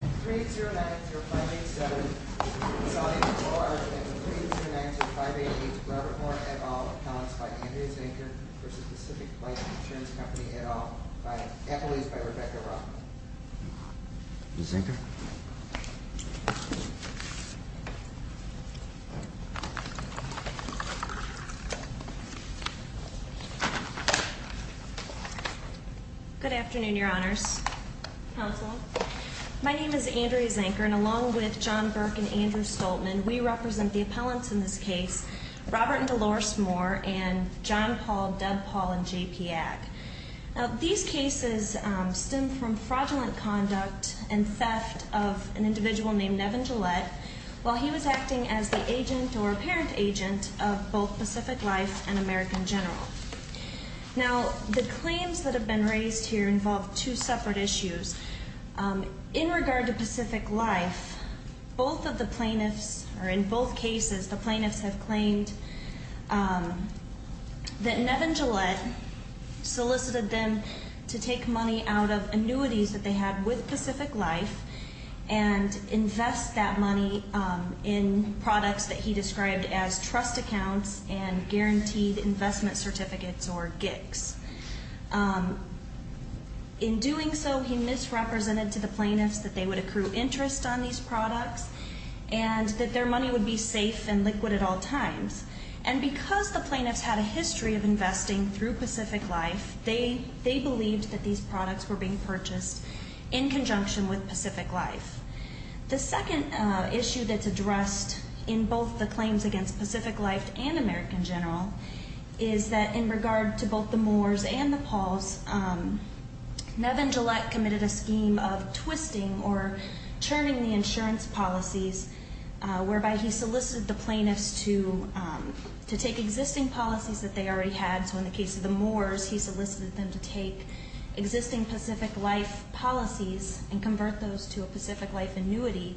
3-090-587, Resolving the Bar, and 3-090-588, Robert Warren, et al., accounts by Andrea Zinker v. Pacific Life Insurance Company, et al., by employees by Rebecca Rothman. Ms. Zinker? Good afternoon, Your Honors. Counsel? My name is Andrea Zinker, and along with John Burke and Andrew Stoltman, we represent the appellants in this case, Robert and Dolores Moore and John Paul, Deb Paul, and J.P. Ag. Now, these cases stem from fraudulent conduct and theft of an individual named Nevin Gillette while he was acting as the agent or apparent agent of both Pacific Life and American General. Now, the claims that have been raised here involve two separate issues. In regard to Pacific Life, both of the plaintiffs, or in both cases, the plaintiffs have claimed that Nevin Gillette solicited them to take money out of annuities that they had with Pacific Life and invest that money in products that he described as trust accounts and guaranteed investment certificates, or GICs. In doing so, he misrepresented to the plaintiffs that they would accrue interest on these products and that their money would be safe and liquid at all times. And because the plaintiffs had a history of investing through Pacific Life, they believed that these products were being purchased in conjunction with Pacific Life. The second issue that's addressed in both the claims against Pacific Life and American General is that in regard to both the Moors and the Pauls, Nevin Gillette committed a scheme of twisting or churning the insurance policies whereby he solicited the plaintiffs to take existing policies that they already had. So in the case of the Moors, he solicited them to take existing Pacific Life policies and convert those to a Pacific Life annuity,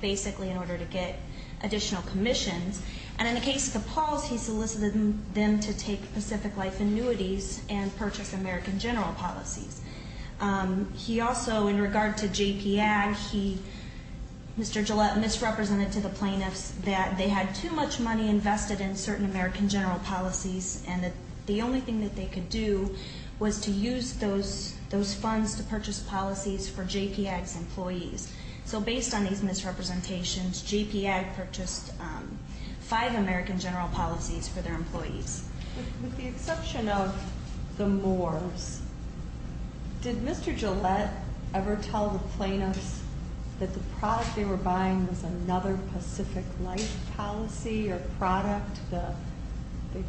basically in order to get additional commissions. And in the case of the Pauls, he solicited them to take Pacific Life annuities and purchase American General policies. He also, in regard to JPAG, he, Mr. Gillette, misrepresented to the plaintiffs that they had too much money invested in certain American General policies and that the only thing that they could do was to use those funds to purchase policies for JPAG's employees. So based on these misrepresentations, JPAG purchased five American General policies for their employees. With the exception of the Moors, did Mr. Gillette ever tell the plaintiffs that the product they were buying was another Pacific Life policy or product, the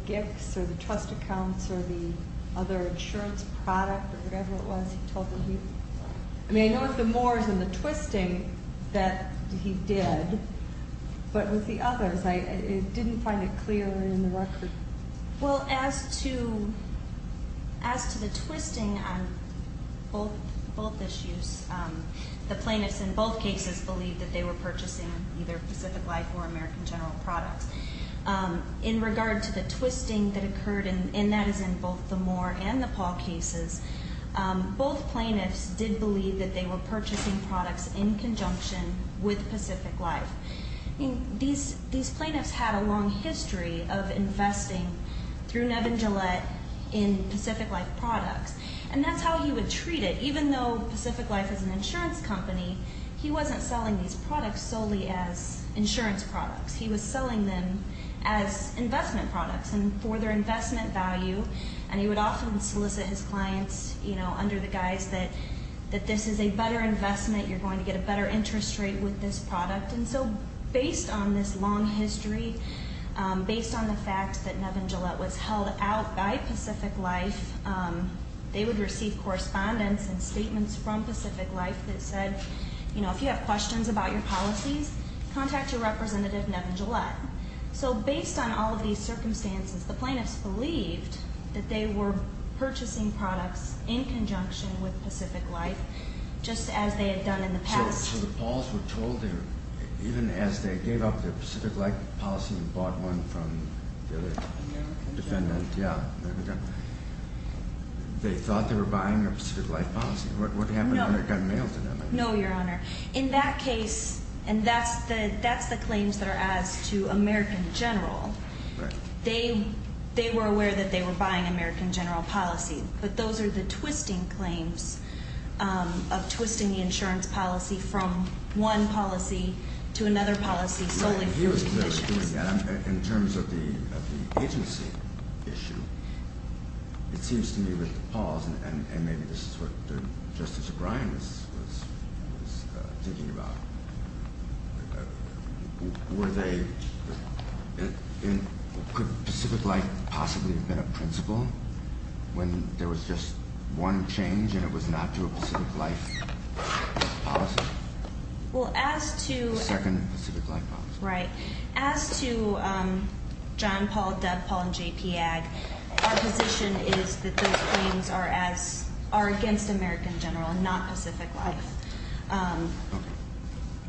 gifts or the trust accounts or the other insurance product or whatever it was he told them he... I mean, I know it's the Moors and the twisting that he did, but with the others, I didn't find it clear in the record. Well, as to the twisting on both issues, the plaintiffs in both cases believed that they were purchasing either Pacific Life or American General products. In regard to the twisting that occurred, and that is in both the Moore and the Paul cases, both plaintiffs did believe that they were purchasing products in conjunction with Pacific Life. I mean, these plaintiffs had a long history of investing through Nevin Gillette in Pacific Life products, and that's how he would treat it. Even though Pacific Life is an insurance company, he wasn't selling these products solely as insurance products. He was selling them as investment products and for their investment value, and he would often solicit his clients under the guise that this is a better investment, you're going to get a better interest rate with this product. And so based on this long history, based on the fact that Nevin Gillette was held out by Pacific Life, they would receive correspondence and statements from Pacific Life that said, if you have questions about your policies, contact your representative, Nevin Gillette. So based on all of these circumstances, the plaintiffs believed that they were purchasing products in conjunction with Pacific Life, just as they had done in the past. So the Pauls were told, even as they gave up their Pacific Life policy and bought one from the other defendant, they thought they were buying a Pacific Life policy. What happened when it got mailed to them? No, Your Honor. In that case, and that's the claims that are as to American General, they were aware that they were buying American General policy, but those are the twisting claims of twisting the insurance policy from one policy to another policy. In terms of the agency issue, it seems to me with the Pauls, and maybe this is what Justice O'Brien was thinking about, could Pacific Life possibly have been a principal when there was just one change and it was not to a Pacific Life policy? Well, as to... The second Pacific Life policy. Right. As to John, Paul, Deb, Paul, and J.P. Ag, our position is that those claims are against American General and not Pacific Life. Okay.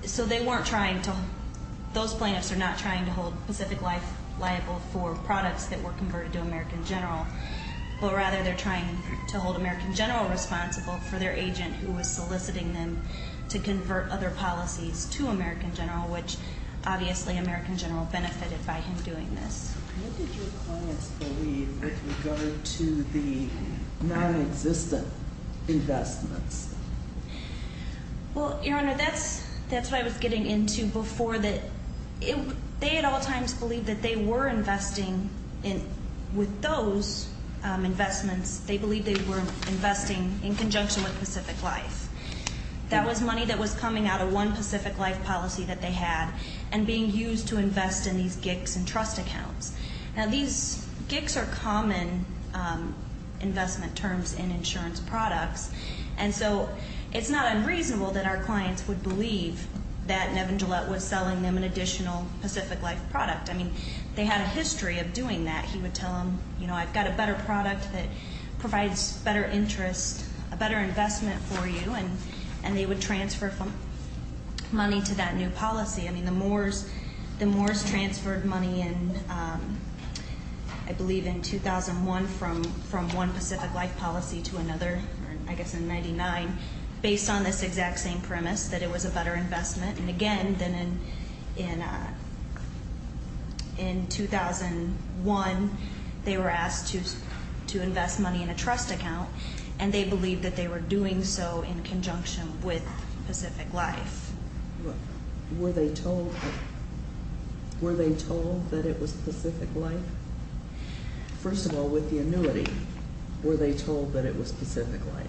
So they weren't trying to... Those plaintiffs are not trying to hold Pacific Life liable for products that were converted to American General, but rather they're trying to hold American General responsible for their agent who was soliciting them to convert other policies to American General, which obviously American General benefited by him doing this. What did your clients believe with regard to the nonexistent investments? Well, Your Honor, that's what I was getting into before. They at all times believed that they were investing with those investments. They believed they were investing in conjunction with Pacific Life. That was money that was coming out of one Pacific Life policy that they had and being used to invest in these GICs and trust accounts. Now, these GICs are common investment terms in insurance products, and so it's not unreasonable that our clients would believe that Nevin Gillette was selling them an additional Pacific Life product. I mean, they had a history of doing that. He would tell them, you know, I've got a better product that provides better interest, a better investment for you, and they would transfer money to that new policy. I mean, the Moors transferred money in, I believe, in 2001 from one Pacific Life policy to another, I guess in 99, based on this exact same premise that it was a better investment. And again, then in 2001, they were asked to invest money in a trust account, and they believed that they were doing so in conjunction with Pacific Life. Were they told that it was Pacific Life? First of all, with the annuity, were they told that it was Pacific Life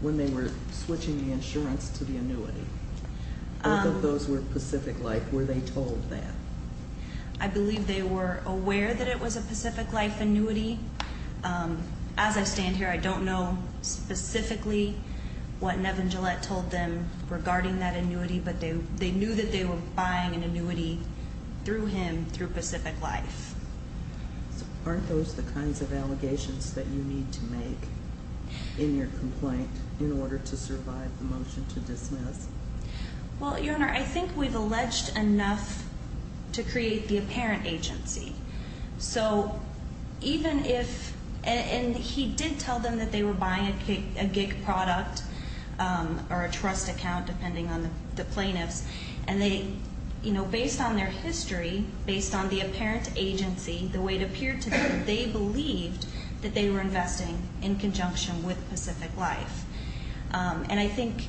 when they were switching the insurance to the annuity, or that those were Pacific Life? Were they told that? I believe they were aware that it was a Pacific Life annuity. As I stand here, I don't know specifically what Nevin Gillette told them regarding that annuity, but they knew that they were buying an annuity through him through Pacific Life. Aren't those the kinds of allegations that you need to make in your complaint in order to survive the motion to dismiss? Well, Your Honor, I think we've alleged enough to create the apparent agency. So even if, and he did tell them that they were buying a gig product or a trust account, depending on the plaintiffs, and they, you know, based on their history, based on the apparent agency, the way it appeared to them, they believed that they were investing in conjunction with Pacific Life. And I think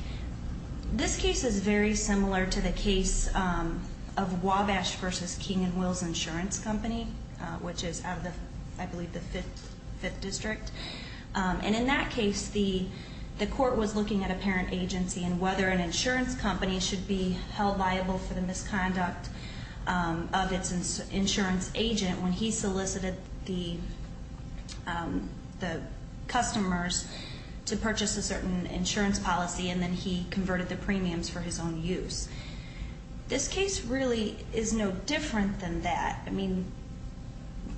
this case is very similar to the case of Wabash v. King & Wills Insurance Company, which is out of the, I believe, the Fifth District. And in that case, the court was looking at apparent agency and whether an insurance company should be held liable for the misconduct of its insurance agent when he solicited the customers to purchase a certain insurance policy and then he converted the premiums for his own use. This case really is no different than that. I mean,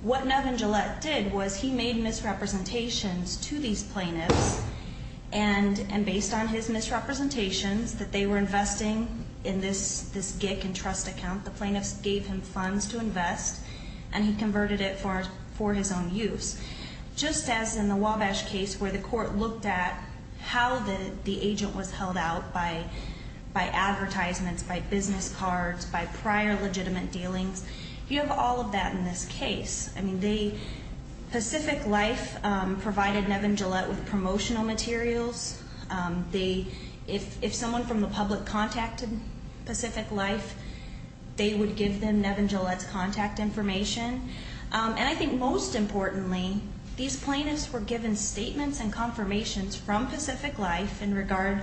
what Nevin Gillette did was he made misrepresentations to these plaintiffs, and based on his misrepresentations that they were investing in this gig and trust account, the plaintiffs gave him funds to invest and he converted it for his own use. Just as in the Wabash case where the court looked at how the agent was held out by advertisements, by business cards, by prior legitimate dealings, you have all of that in this case. I mean, Pacific Life provided Nevin Gillette with promotional materials. If someone from the public contacted Pacific Life, they would give them Nevin Gillette's contact information. And I think most importantly, these plaintiffs were given statements and confirmations from Pacific Life in regard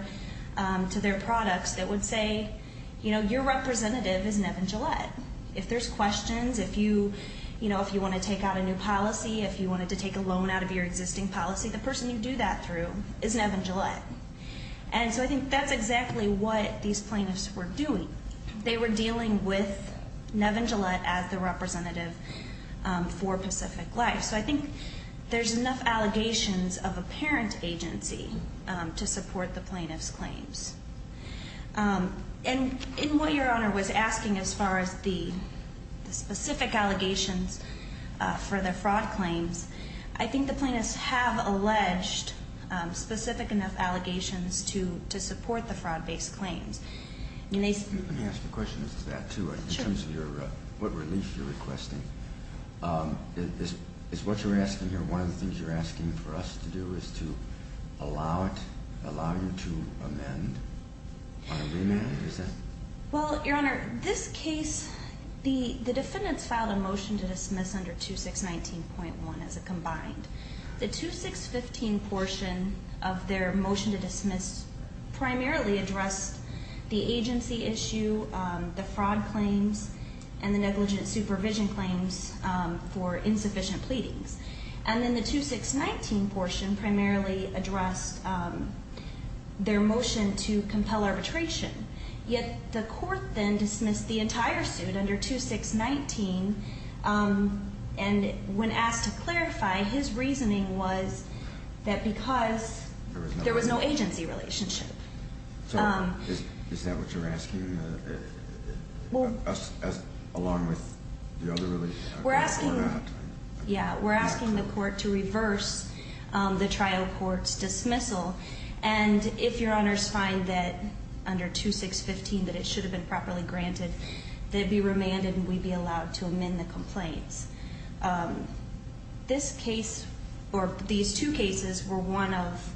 to their products that would say, you know, your representative is Nevin Gillette. If there's questions, if you, you know, if you want to take out a new policy, if you wanted to take a loan out of your existing policy, the person you do that through is Nevin Gillette. And so I think that's exactly what these plaintiffs were doing. They were dealing with Nevin Gillette as the representative for Pacific Life. So I think there's enough allegations of a parent agency to support the plaintiff's claims. And in what Your Honor was asking as far as the specific allegations for the fraud claims, I think the plaintiffs have alleged specific enough allegations to support the fraud-based claims. Let me ask a question as to that, too, in terms of what relief you're requesting. It's what you're asking here. One of the things you're asking for us to do is to allow it, allow you to amend on a remand. Is that? Well, Your Honor, this case, the defendants filed a motion to dismiss under 2619.1 as a combined. The 2615 portion of their motion to dismiss primarily addressed the agency issue, the fraud claims, and the negligent supervision claims for insufficient pleadings. And then the 2619 portion primarily addressed their motion to compel arbitration. Yet the court then dismissed the entire suit under 2619. And when asked to clarify, his reasoning was that because there was no agency relationship. Is that what you're asking along with the other relief? We're asking the court to reverse the trial court's dismissal. And if Your Honor's find that under 2615 that it should have been properly granted, they'd be remanded and we'd be allowed to amend the complaints. This case, or these two cases, were one of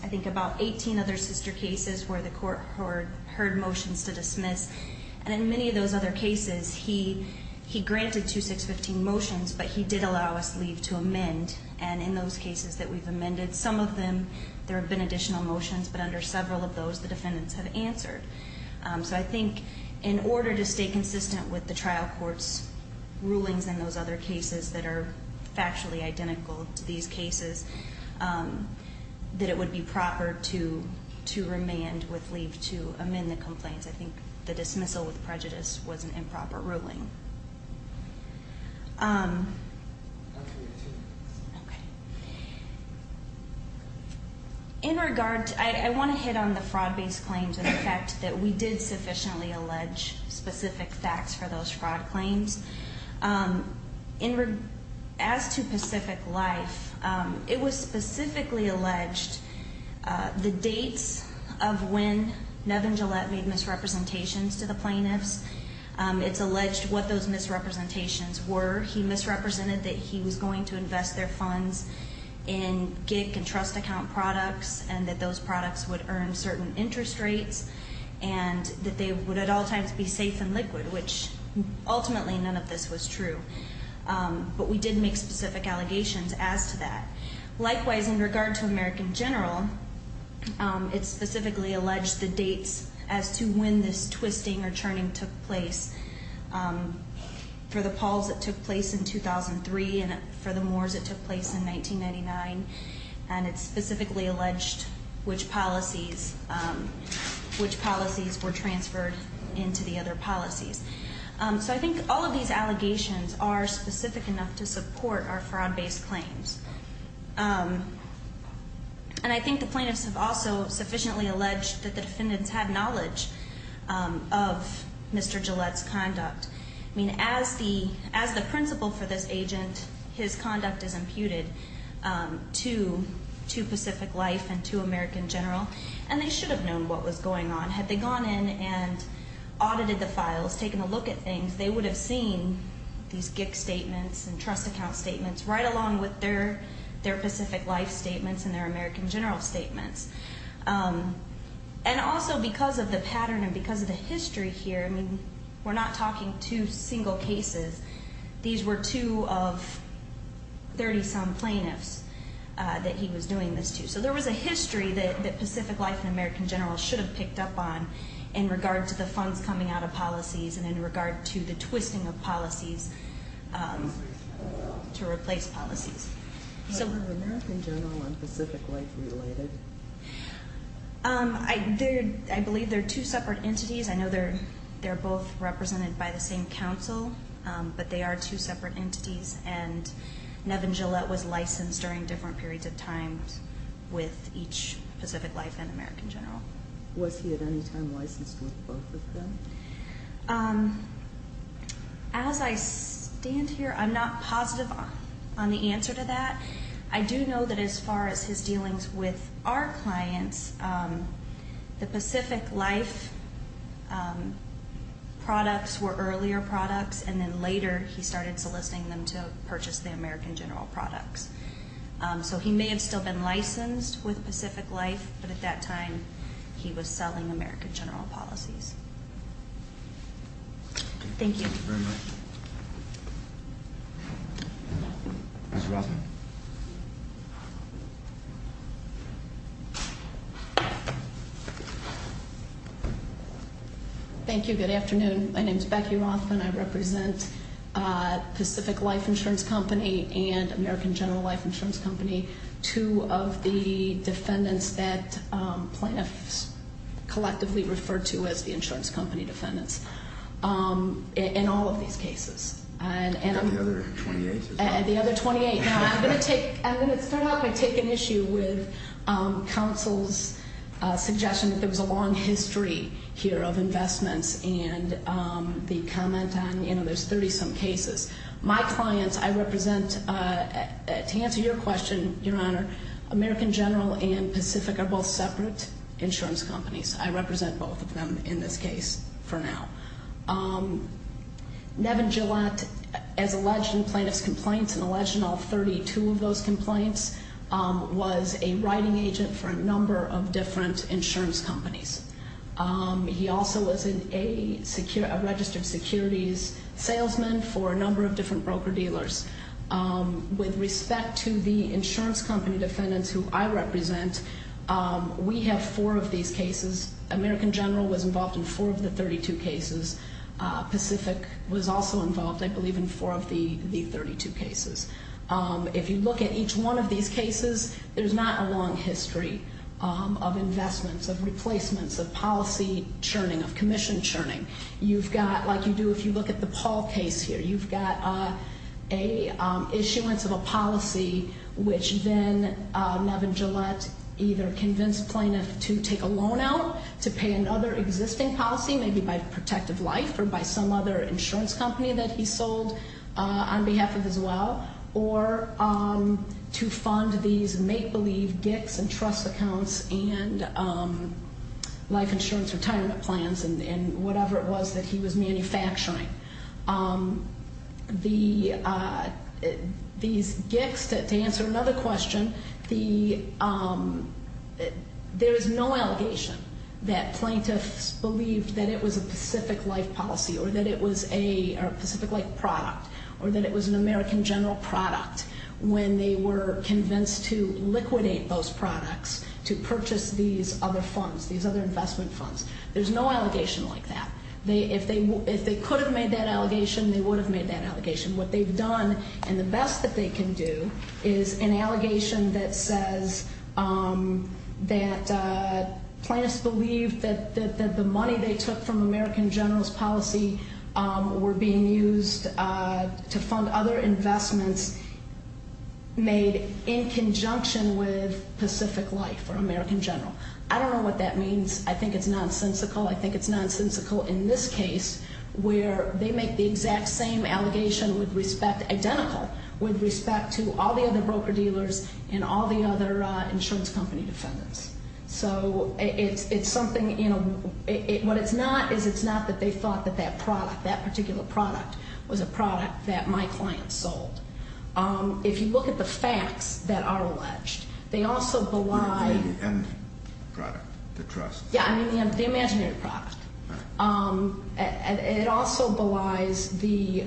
I think about 18 other sister cases where the court heard motions to dismiss. And in many of those other cases, he granted 2615 motions, but he did allow us leave to amend. And in those cases that we've amended, some of them there have been additional motions, but under several of those the defendants have answered. So I think in order to stay consistent with the trial court's rulings in those other cases that are factually identical to these cases, that it would be proper to remand with leave to amend the complaints. I think the dismissal with prejudice was an improper ruling. In regard, I want to hit on the fraud based claims and the fact that we did sufficiently allege specific facts for those fraud claims. As to Pacific Life, it was specifically alleged the dates of when Nevin Gillette made misrepresentations to the plaintiffs. It's alleged what those misrepresentations were. He misrepresented that he was going to invest their funds in gig and trust account products and that those products would earn certain interest rates and that they would at all times be safe and liquid, which ultimately none of this was true. But we did make specific allegations as to that. Likewise, in regard to American General, it specifically alleged the dates as to when this twisting or turning took place. For the Pauls it took place in 2003 and for the Moors it took place in 1999, and it specifically alleged which policies were transferred into the other policies. So I think all of these allegations are specific enough to support our fraud based claims. And I think the plaintiffs have also sufficiently alleged that the defendants had knowledge of Mr. Gillette's conduct. I mean, as the principal for this agent, his conduct is imputed to Pacific Life and to American General, and they should have known what was going on. Had they gone in and audited the files, taken a look at things, they would have seen these gig statements and trust account statements, right along with their Pacific Life statements and their American General statements. And also because of the pattern and because of the history here, I mean, we're not talking two single cases. These were two of 30-some plaintiffs that he was doing this to. So there was a history that Pacific Life and American General should have picked up on in regard to the funds coming out of policies and in regard to the twisting of policies to replace policies. Are American General and Pacific Life related? I believe they're two separate entities. I know they're both represented by the same counsel, but they are two separate entities, and Nevin Gillette was licensed during different periods of time with each Pacific Life and American General. Was he at any time licensed with both of them? As I stand here, I'm not positive on the answer to that. I do know that as far as his dealings with our clients, the Pacific Life products were earlier products, and then later he started soliciting them to purchase the American General products. So he may have still been licensed with Pacific Life, but at that time he was selling American General policies. Thank you. Thank you very much. Ms. Rothman. Thank you. Good afternoon. My name is Becky Rothman. I represent Pacific Life Insurance Company and American General Life Insurance Company, two of the defendants that plaintiffs collectively refer to as the insurance company defendants in all of these cases. And the other 28 as well. And the other 28. Now, I'm going to start off by taking issue with counsel's suggestion that there was a long history here of investments and the comment on, you know, there's 30-some cases. My clients, I represent, to answer your question, Your Honor, American General and Pacific are both separate insurance companies. I represent both of them in this case for now. Nevin Gillette, as alleged in plaintiff's complaints and alleged in all 32 of those complaints, was a writing agent for a number of different insurance companies. He also was a registered securities salesman for a number of different broker-dealers. With respect to the insurance company defendants who I represent, we have four of these cases. American General was involved in four of the 32 cases. Pacific was also involved, I believe, in four of the 32 cases. If you look at each one of these cases, there's not a long history of investments, of replacements, of policy churning, of commission churning. You've got, like you do if you look at the Paul case here, you've got an issuance of a policy which then Nevin Gillette either convinced plaintiff to take a loan out to pay another existing policy, maybe by Protective Life or by some other insurance company that he sold on behalf of as well, or to fund these make-believe GICs and trust accounts and life insurance retirement plans and whatever it was that he was manufacturing. These GICs, to answer another question, there is no allegation that plaintiffs believed that it was a Pacific Life policy or that it was a Pacific Life product or that it was an American General product when they were convinced to liquidate those products to purchase these other funds, these other investment funds. There's no allegation like that. If they could have made that allegation, they would have made that allegation. What they've done, and the best that they can do, is an allegation that says that plaintiffs believed that the money they took from American General's policy were being used to fund other investments made in conjunction with Pacific Life or American General. I don't know what that means. I think it's nonsensical. I think it's nonsensical in this case where they make the exact same allegation with respect, identical with respect to all the other broker-dealers and all the other insurance company defendants. So it's something, you know, what it's not is it's not that they thought that that product, that particular product was a product that my client sold. If you look at the facts that are alleged, they also belie... The end product, the trust. Yeah, I mean the imaginary product. It also belies the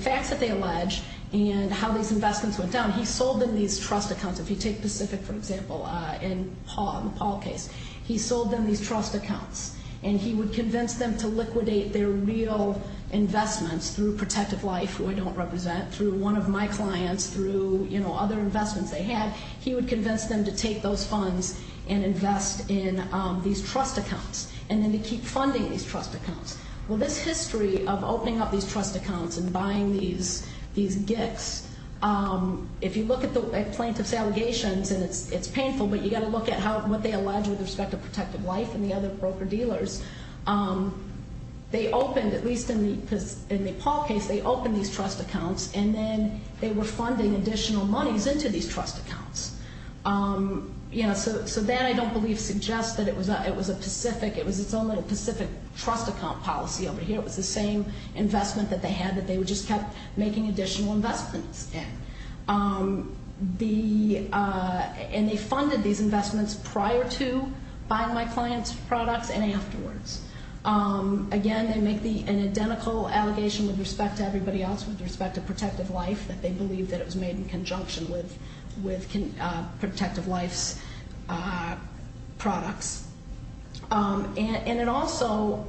facts that they allege and how these investments went down. He sold them these trust accounts. If you take Pacific, for example, in the Paul case, he sold them these trust accounts, and he would convince them to liquidate their real investments through Protective Life, who I don't represent, through one of my clients, through, you know, other investments they had. He would convince them to take those funds and invest in these trust accounts, and then to keep funding these trust accounts. Well, this history of opening up these trust accounts and buying these GICs, if you look at plaintiff's allegations, and it's painful, but you've got to look at what they allege with respect to Protective Life and the other broker-dealers. They opened, at least in the Paul case, they opened these trust accounts, and then they were funding additional monies into these trust accounts. You know, so that, I don't believe, suggests that it was a Pacific, it was its own little Pacific trust account policy over here. It was the same investment that they had, that they just kept making additional investments in. And they funded these investments prior to buying my client's products and afterwards. Again, they make an identical allegation with respect to everybody else, with respect to Protective Life, that they believe that it was made in conjunction with Protective Life's products. And it also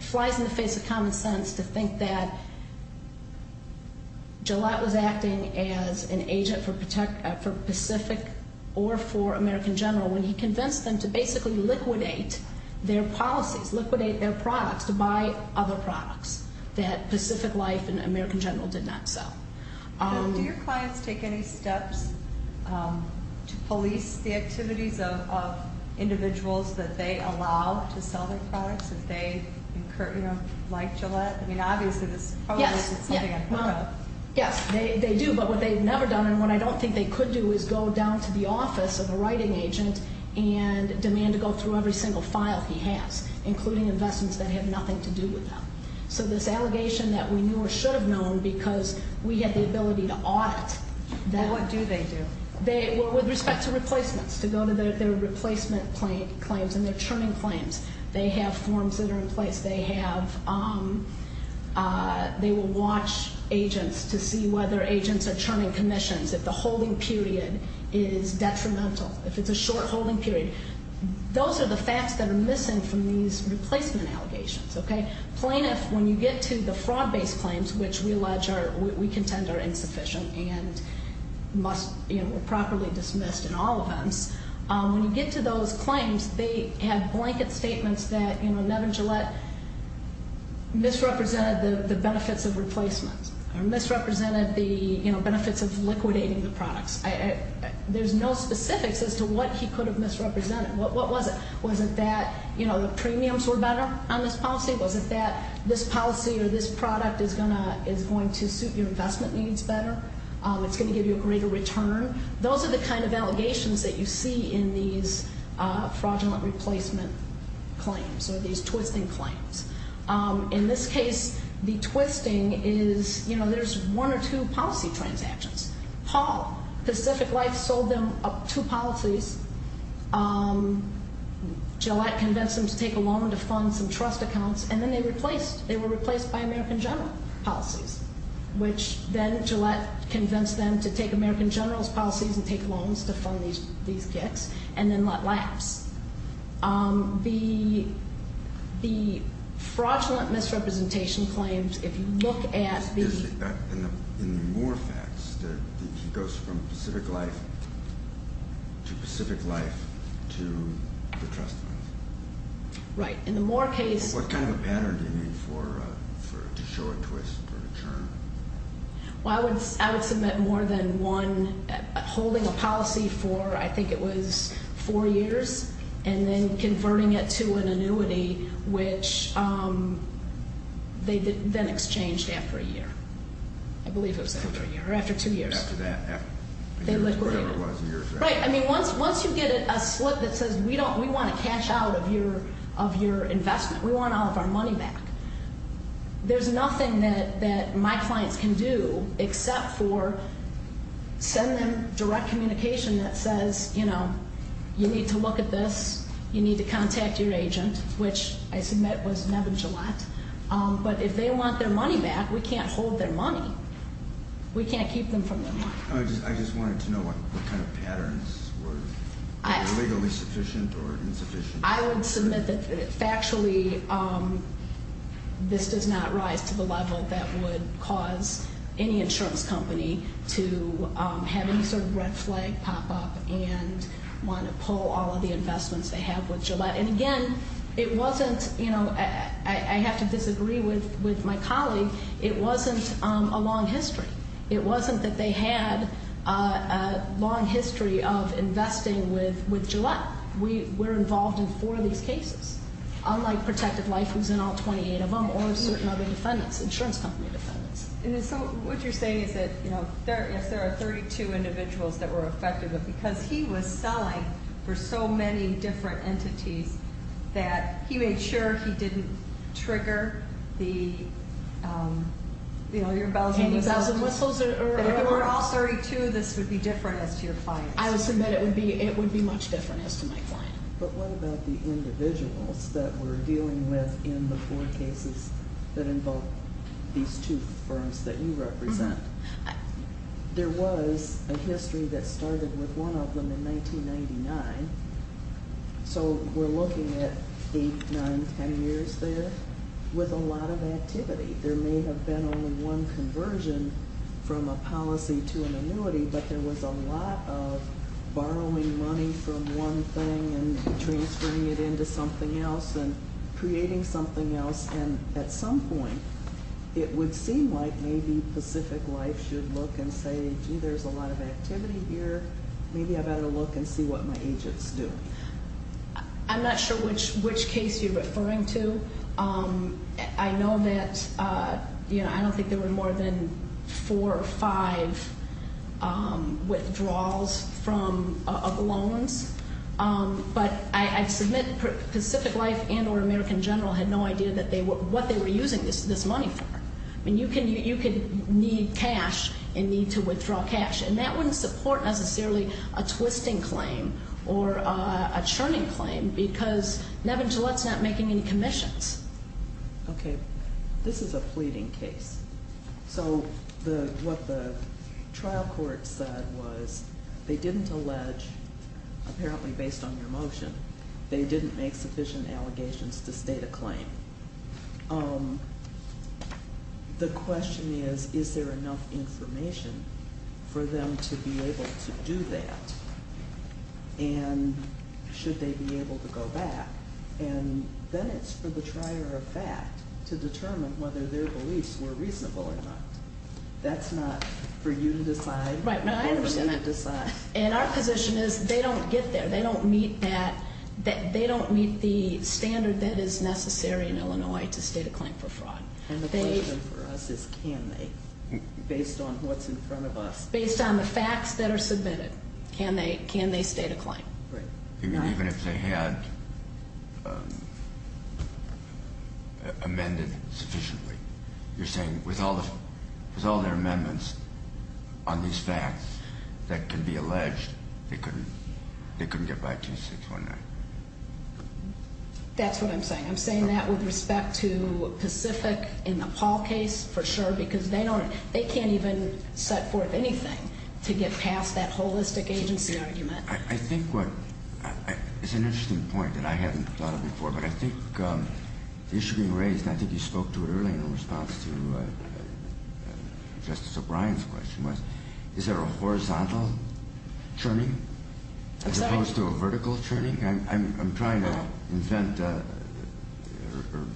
flies in the face of common sense to think that Gillette was acting as an agent for Pacific or for American General when he convinced them to basically liquidate their policies, liquidate their products, to buy other products that Pacific Life and American General did not sell. Do your clients take any steps to police the activities of individuals that they allow to sell their products, if they incur, you know, like Gillette? I mean, obviously, this probably isn't something I've heard of. Yes, they do, but what they've never done, and what I don't think they could do, is go down to the office of a writing agent and demand to go through every single file he has, including investments that have nothing to do with them. So this allegation that we knew or should have known because we had the ability to audit. What do they do? Well, with respect to replacements, to go to their replacement claims and their terming claims. They have forms that are in place. They will watch agents to see whether agents are terming commissions, if the holding period is detrimental, if it's a short holding period. Those are the facts that are missing from these replacement allegations, okay? Plaintiffs, when you get to the fraud-based claims, which we allege are, we contend are insufficient and must, you know, were properly dismissed in all events. When you get to those claims, they have blanket statements that, you know, Nevin Gillette misrepresented the benefits of replacement or misrepresented the, you know, benefits of liquidating the products. There's no specifics as to what he could have misrepresented. What was it? Was it that, you know, the premiums were better on this policy? Was it that this policy or this product is going to suit your investment needs better? It's going to give you a greater return? Those are the kind of allegations that you see in these fraudulent replacement claims or these twisting claims. In this case, the twisting is, you know, there's one or two policy transactions. Paul, Pacific Life, sold them two policies. Gillette convinced them to take a loan to fund some trust accounts, and then they replaced. They were replaced by American General policies, which then Gillette convinced them to take American General's policies and take loans to fund these kits and then let lapse. The fraudulent misrepresentation claims, if you look at the- In the Moore facts, he goes from Pacific Life to Pacific Life to the trust funds. Right. In the Moore case- What kind of a pattern do you need to show a twist or a turn? Well, I would submit more than one, holding a policy for, I think it was, four years and then converting it to an annuity, which they then exchanged after a year. I believe it was after a year or after two years. After that. They liquidated it. Whatever it was, a year or so. Right. I mean, once you get a slip that says, we want to cash out of your investment, we want all of our money back, there's nothing that my clients can do except for send them direct communication that says, you know, you need to look at this, you need to contact your agent, which I submit was Neb and Gillette. But if they want their money back, we can't hold their money. We can't keep them from their money. I just wanted to know what kind of patterns were legally sufficient or insufficient. I would submit that factually this does not rise to the level that would cause any insurance company to have any sort of red flag pop up and want to pull all of the investments they have with Gillette. And, again, it wasn't, you know, I have to disagree with my colleague, it wasn't a long history. It wasn't that they had a long history of investing with Gillette. But we're involved in four of these cases, unlike Protective Life, who's in all 28 of them, or certain other defendants, insurance company defendants. And so what you're saying is that, you know, if there are 32 individuals that were affected, but because he was selling for so many different entities that he made sure he didn't trigger the, you know, your bells and whistles. If it were all 32, this would be different as to your clients. I would submit it would be much different as to my client. But what about the individuals that we're dealing with in the four cases that involve these two firms that you represent? There was a history that started with one of them in 1999. So we're looking at 8, 9, 10 years there with a lot of activity. There may have been only one conversion from a policy to an annuity, but there was a lot of borrowing money from one thing and transferring it into something else and creating something else. And at some point, it would seem like maybe Pacific Life should look and say, gee, there's a lot of activity here. Maybe I better look and see what my agents do. I'm not sure which case you're referring to. I know that, you know, I don't think there were more than four or five withdrawals of loans. But I submit Pacific Life and or American General had no idea what they were using this money for. I mean, you could need cash and need to withdraw cash, and that wouldn't support necessarily a twisting claim or a churning claim because Nevin Gillette's not making any commissions. Okay. This is a pleading case. So what the trial court said was they didn't allege, apparently based on your motion, they didn't make sufficient allegations to state a claim. The question is, is there enough information for them to be able to do that? And should they be able to go back? And then it's for the trier of fact to determine whether their beliefs were reasonable or not. That's not for you to decide. Right. No, I understand that. And our position is they don't get there. They don't meet that. They don't meet the standard that is necessary in Illinois to state a claim for fraud. And the question for us is can they based on what's in front of us? Based on the facts that are submitted. Can they state a claim? Even if they had amended sufficiently. You're saying with all their amendments on these facts that can be alleged, they couldn't get back to 619? That's what I'm saying. I'm saying that with respect to Pacific in the Paul case for sure because they can't even set forth anything to get past that holistic agency argument. I think it's an interesting point that I haven't thought of before, but I think the issue being raised, I think you spoke to it earlier in response to Justice O'Brien's question, is there a horizontal churning as opposed to a vertical churning? I'm trying to invent my mind.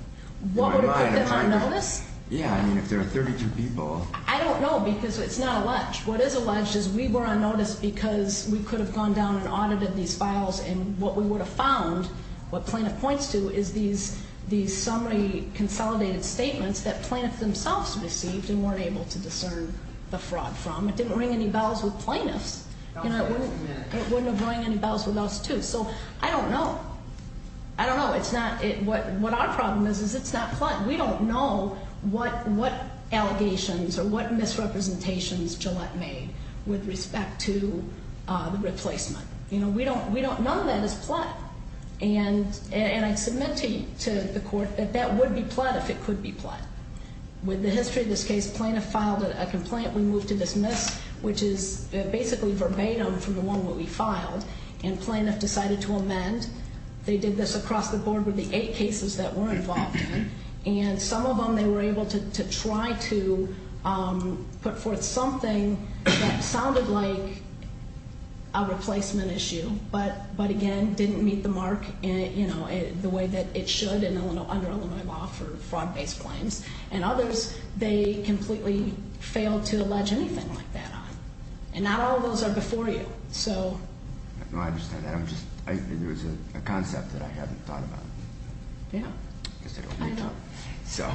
What would it put them on notice? Yeah, I mean if there are 32 people. I don't know because it's not alleged. What is alleged is we were on notice because we could have gone down and audited these files and what we would have found, what plaintiff points to, is these summary consolidated statements that plaintiffs themselves received and weren't able to discern the fraud from. It didn't ring any bells with plaintiffs. It wouldn't have rung any bells with us too. So I don't know. I don't know. What our problem is, is it's not plaintiff. We don't know what allegations or what misrepresentations Gillette made with respect to the replacement. None of that is plot. And I submit to the court that that would be plot if it could be plot. With the history of this case, plaintiff filed a complaint. We moved to dismiss, which is basically verbatim from the one that we filed, and plaintiff decided to amend. They did this across the board with the eight cases that we're involved in, and some of them they were able to try to put forth something that sounded like a replacement issue, but, again, didn't meet the mark the way that it should under Illinois law for fraud-based claims. And others, they completely failed to allege anything like that on. And not all of those are before you. No, I understand that. It was a concept that I hadn't thought about. Yeah. I know. So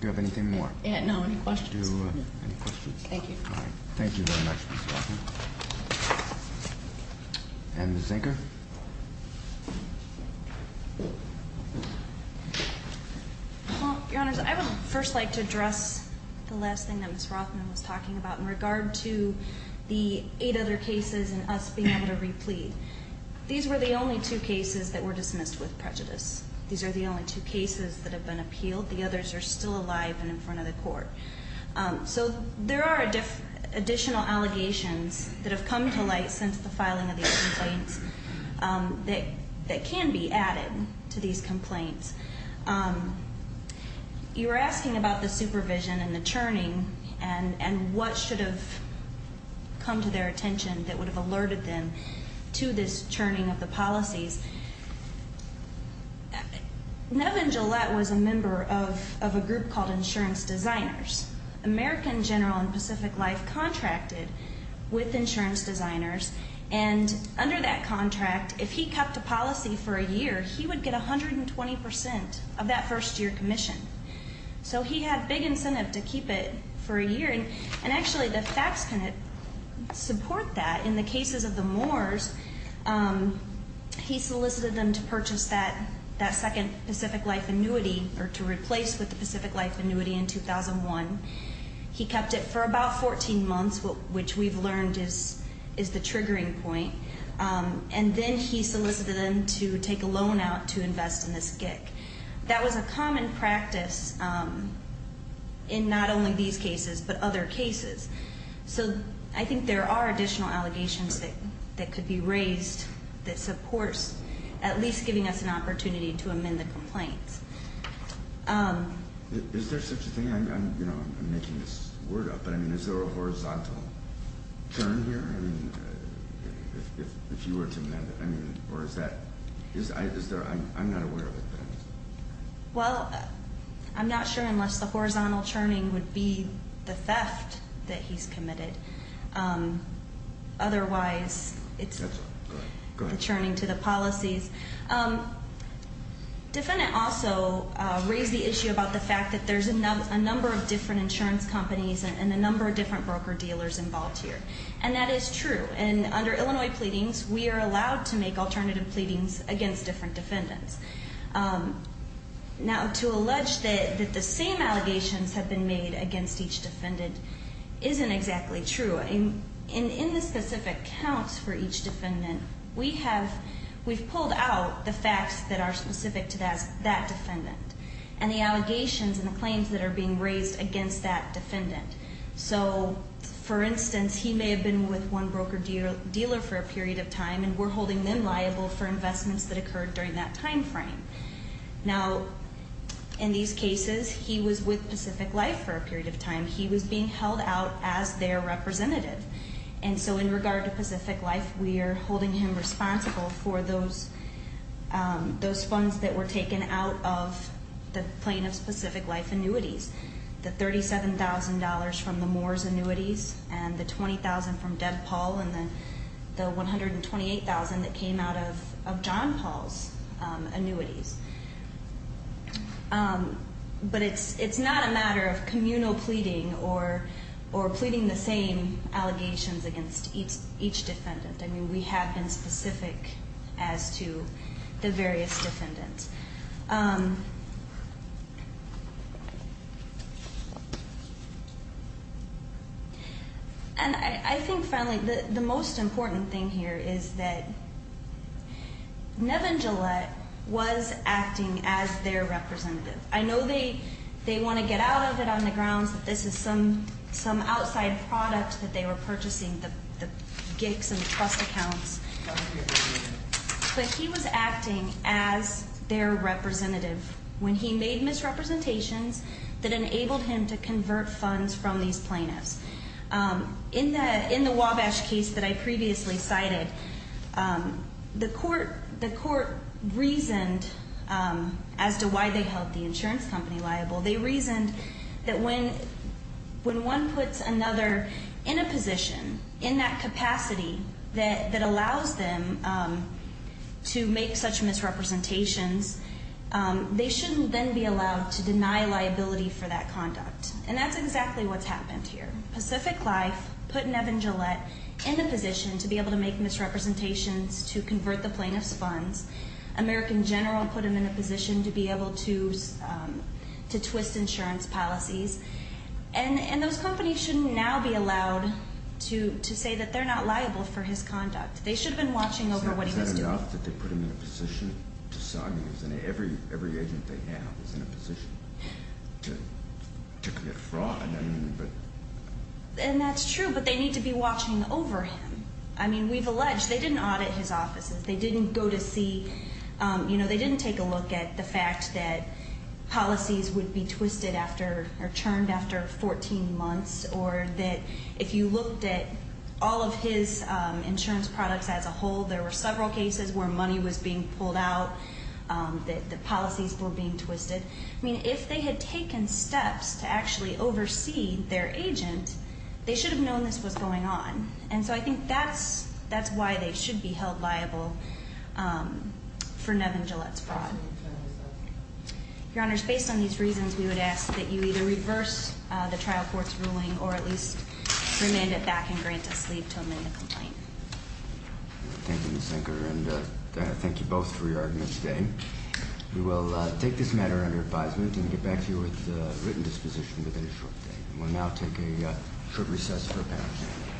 do you have anything more? No, any questions? Any questions? Thank you. All right. Thank you very much, Ms. Rothman. And Ms. Inker? Well, Your Honors, I would first like to address the last thing that Ms. Rothman was talking about in regard to the eight other cases and us being able to replete. These were the only two cases that were dismissed with prejudice. These are the only two cases that have been appealed. The others are still alive and in front of the court. So there are additional allegations that have come to light since the filing of these complaints that can be added to these complaints. You were asking about the supervision and the churning and what should have come to their attention that would have alerted them to this churning of the policies. Nevin Gillette was a member of a group called Insurance Designers. American General and Pacific Life contracted with Insurance Designers. And under that contract, if he kept a policy for a year, he would get 120 percent of that first-year commission. So he had big incentive to keep it for a year. And actually, the facts support that. In the cases of the Moors, he solicited them to purchase that second Pacific Life annuity or to replace with the Pacific Life annuity in 2001. He kept it for about 14 months, which we've learned is the triggering point. And then he solicited them to take a loan out to invest in this GIC. That was a common practice in not only these cases but other cases. So I think there are additional allegations that could be raised that supports at least giving us an opportunity to amend the complaints. Is there such a thing? I'm making this word up, but, I mean, is there a horizontal churn here? I mean, if you were to amend it, I mean, or is that, is there, I'm not aware of it. Well, I'm not sure unless the horizontal churning would be the theft that he's committed. Otherwise, it's the churning to the policies. Defendant also raised the issue about the fact that there's a number of different insurance companies and a number of different broker-dealers involved here, and that is true. And under Illinois pleadings, we are allowed to make alternative pleadings against different defendants. Now, to allege that the same allegations have been made against each defendant isn't exactly true. In the specific counts for each defendant, we have, we've pulled out the facts that are specific to that defendant and the allegations and the claims that are being raised against that defendant. So, for instance, he may have been with one broker-dealer for a period of time, and we're holding them liable for investments that occurred during that time frame. Now, in these cases, he was with Pacific Life for a period of time. He was being held out as their representative, and so in regard to Pacific Life, we are holding him responsible for those funds that were taken out of the plaintiff's Pacific Life annuities, the $37,000 from the Moore's annuities and the $20,000 from Deb Paul and the $128,000 that came out of John Paul's annuities. But it's not a matter of communal pleading or pleading the same allegations against each defendant. I mean, we have been specific as to the various defendants. And I think, finally, the most important thing here is that Nevin Gillette was acting as their representative. I know they want to get out of it on the grounds that this is some outside product that they were purchasing, the gigs and the trust accounts, but he was acting as their representative when he made misrepresentations that enabled him to convert funds from these plaintiffs. In the Wabash case that I previously cited, the court reasoned as to why they held the insurance company liable. They reasoned that when one puts another in a position in that capacity that allows them to make such misrepresentations, they shouldn't then be allowed to deny liability for that conduct. And that's exactly what's happened here. Pacific Life put Nevin Gillette in a position to be able to make misrepresentations to convert the plaintiff's funds. American General put him in a position to be able to twist insurance policies. And those companies shouldn't now be allowed to say that they're not liable for his conduct. They should have been watching over what he was doing. Is that enough that they put him in a position to sign him? Every agent they have is in a position to commit fraud. And that's true, but they need to be watching over him. I mean, we've alleged they didn't audit his offices. They didn't go to see, you know, they didn't take a look at the fact that policies would be twisted after or churned after 14 months or that if you looked at all of his insurance products as a whole, there were several cases where money was being pulled out, that the policies were being twisted. I mean, if they had taken steps to actually oversee their agent, they should have known this was going on. And so I think that's why they should be held liable for Nevin Gillette's fraud. Your Honors, based on these reasons, we would ask that you either reverse the trial court's ruling or at least remand it back and grant us leave to amend the complaint. Thank you, Ms. Sinker, and thank you both for your argument today. We will take this matter under advisement and get back to you with a written disposition within a short period. We will now take a short recess for parents.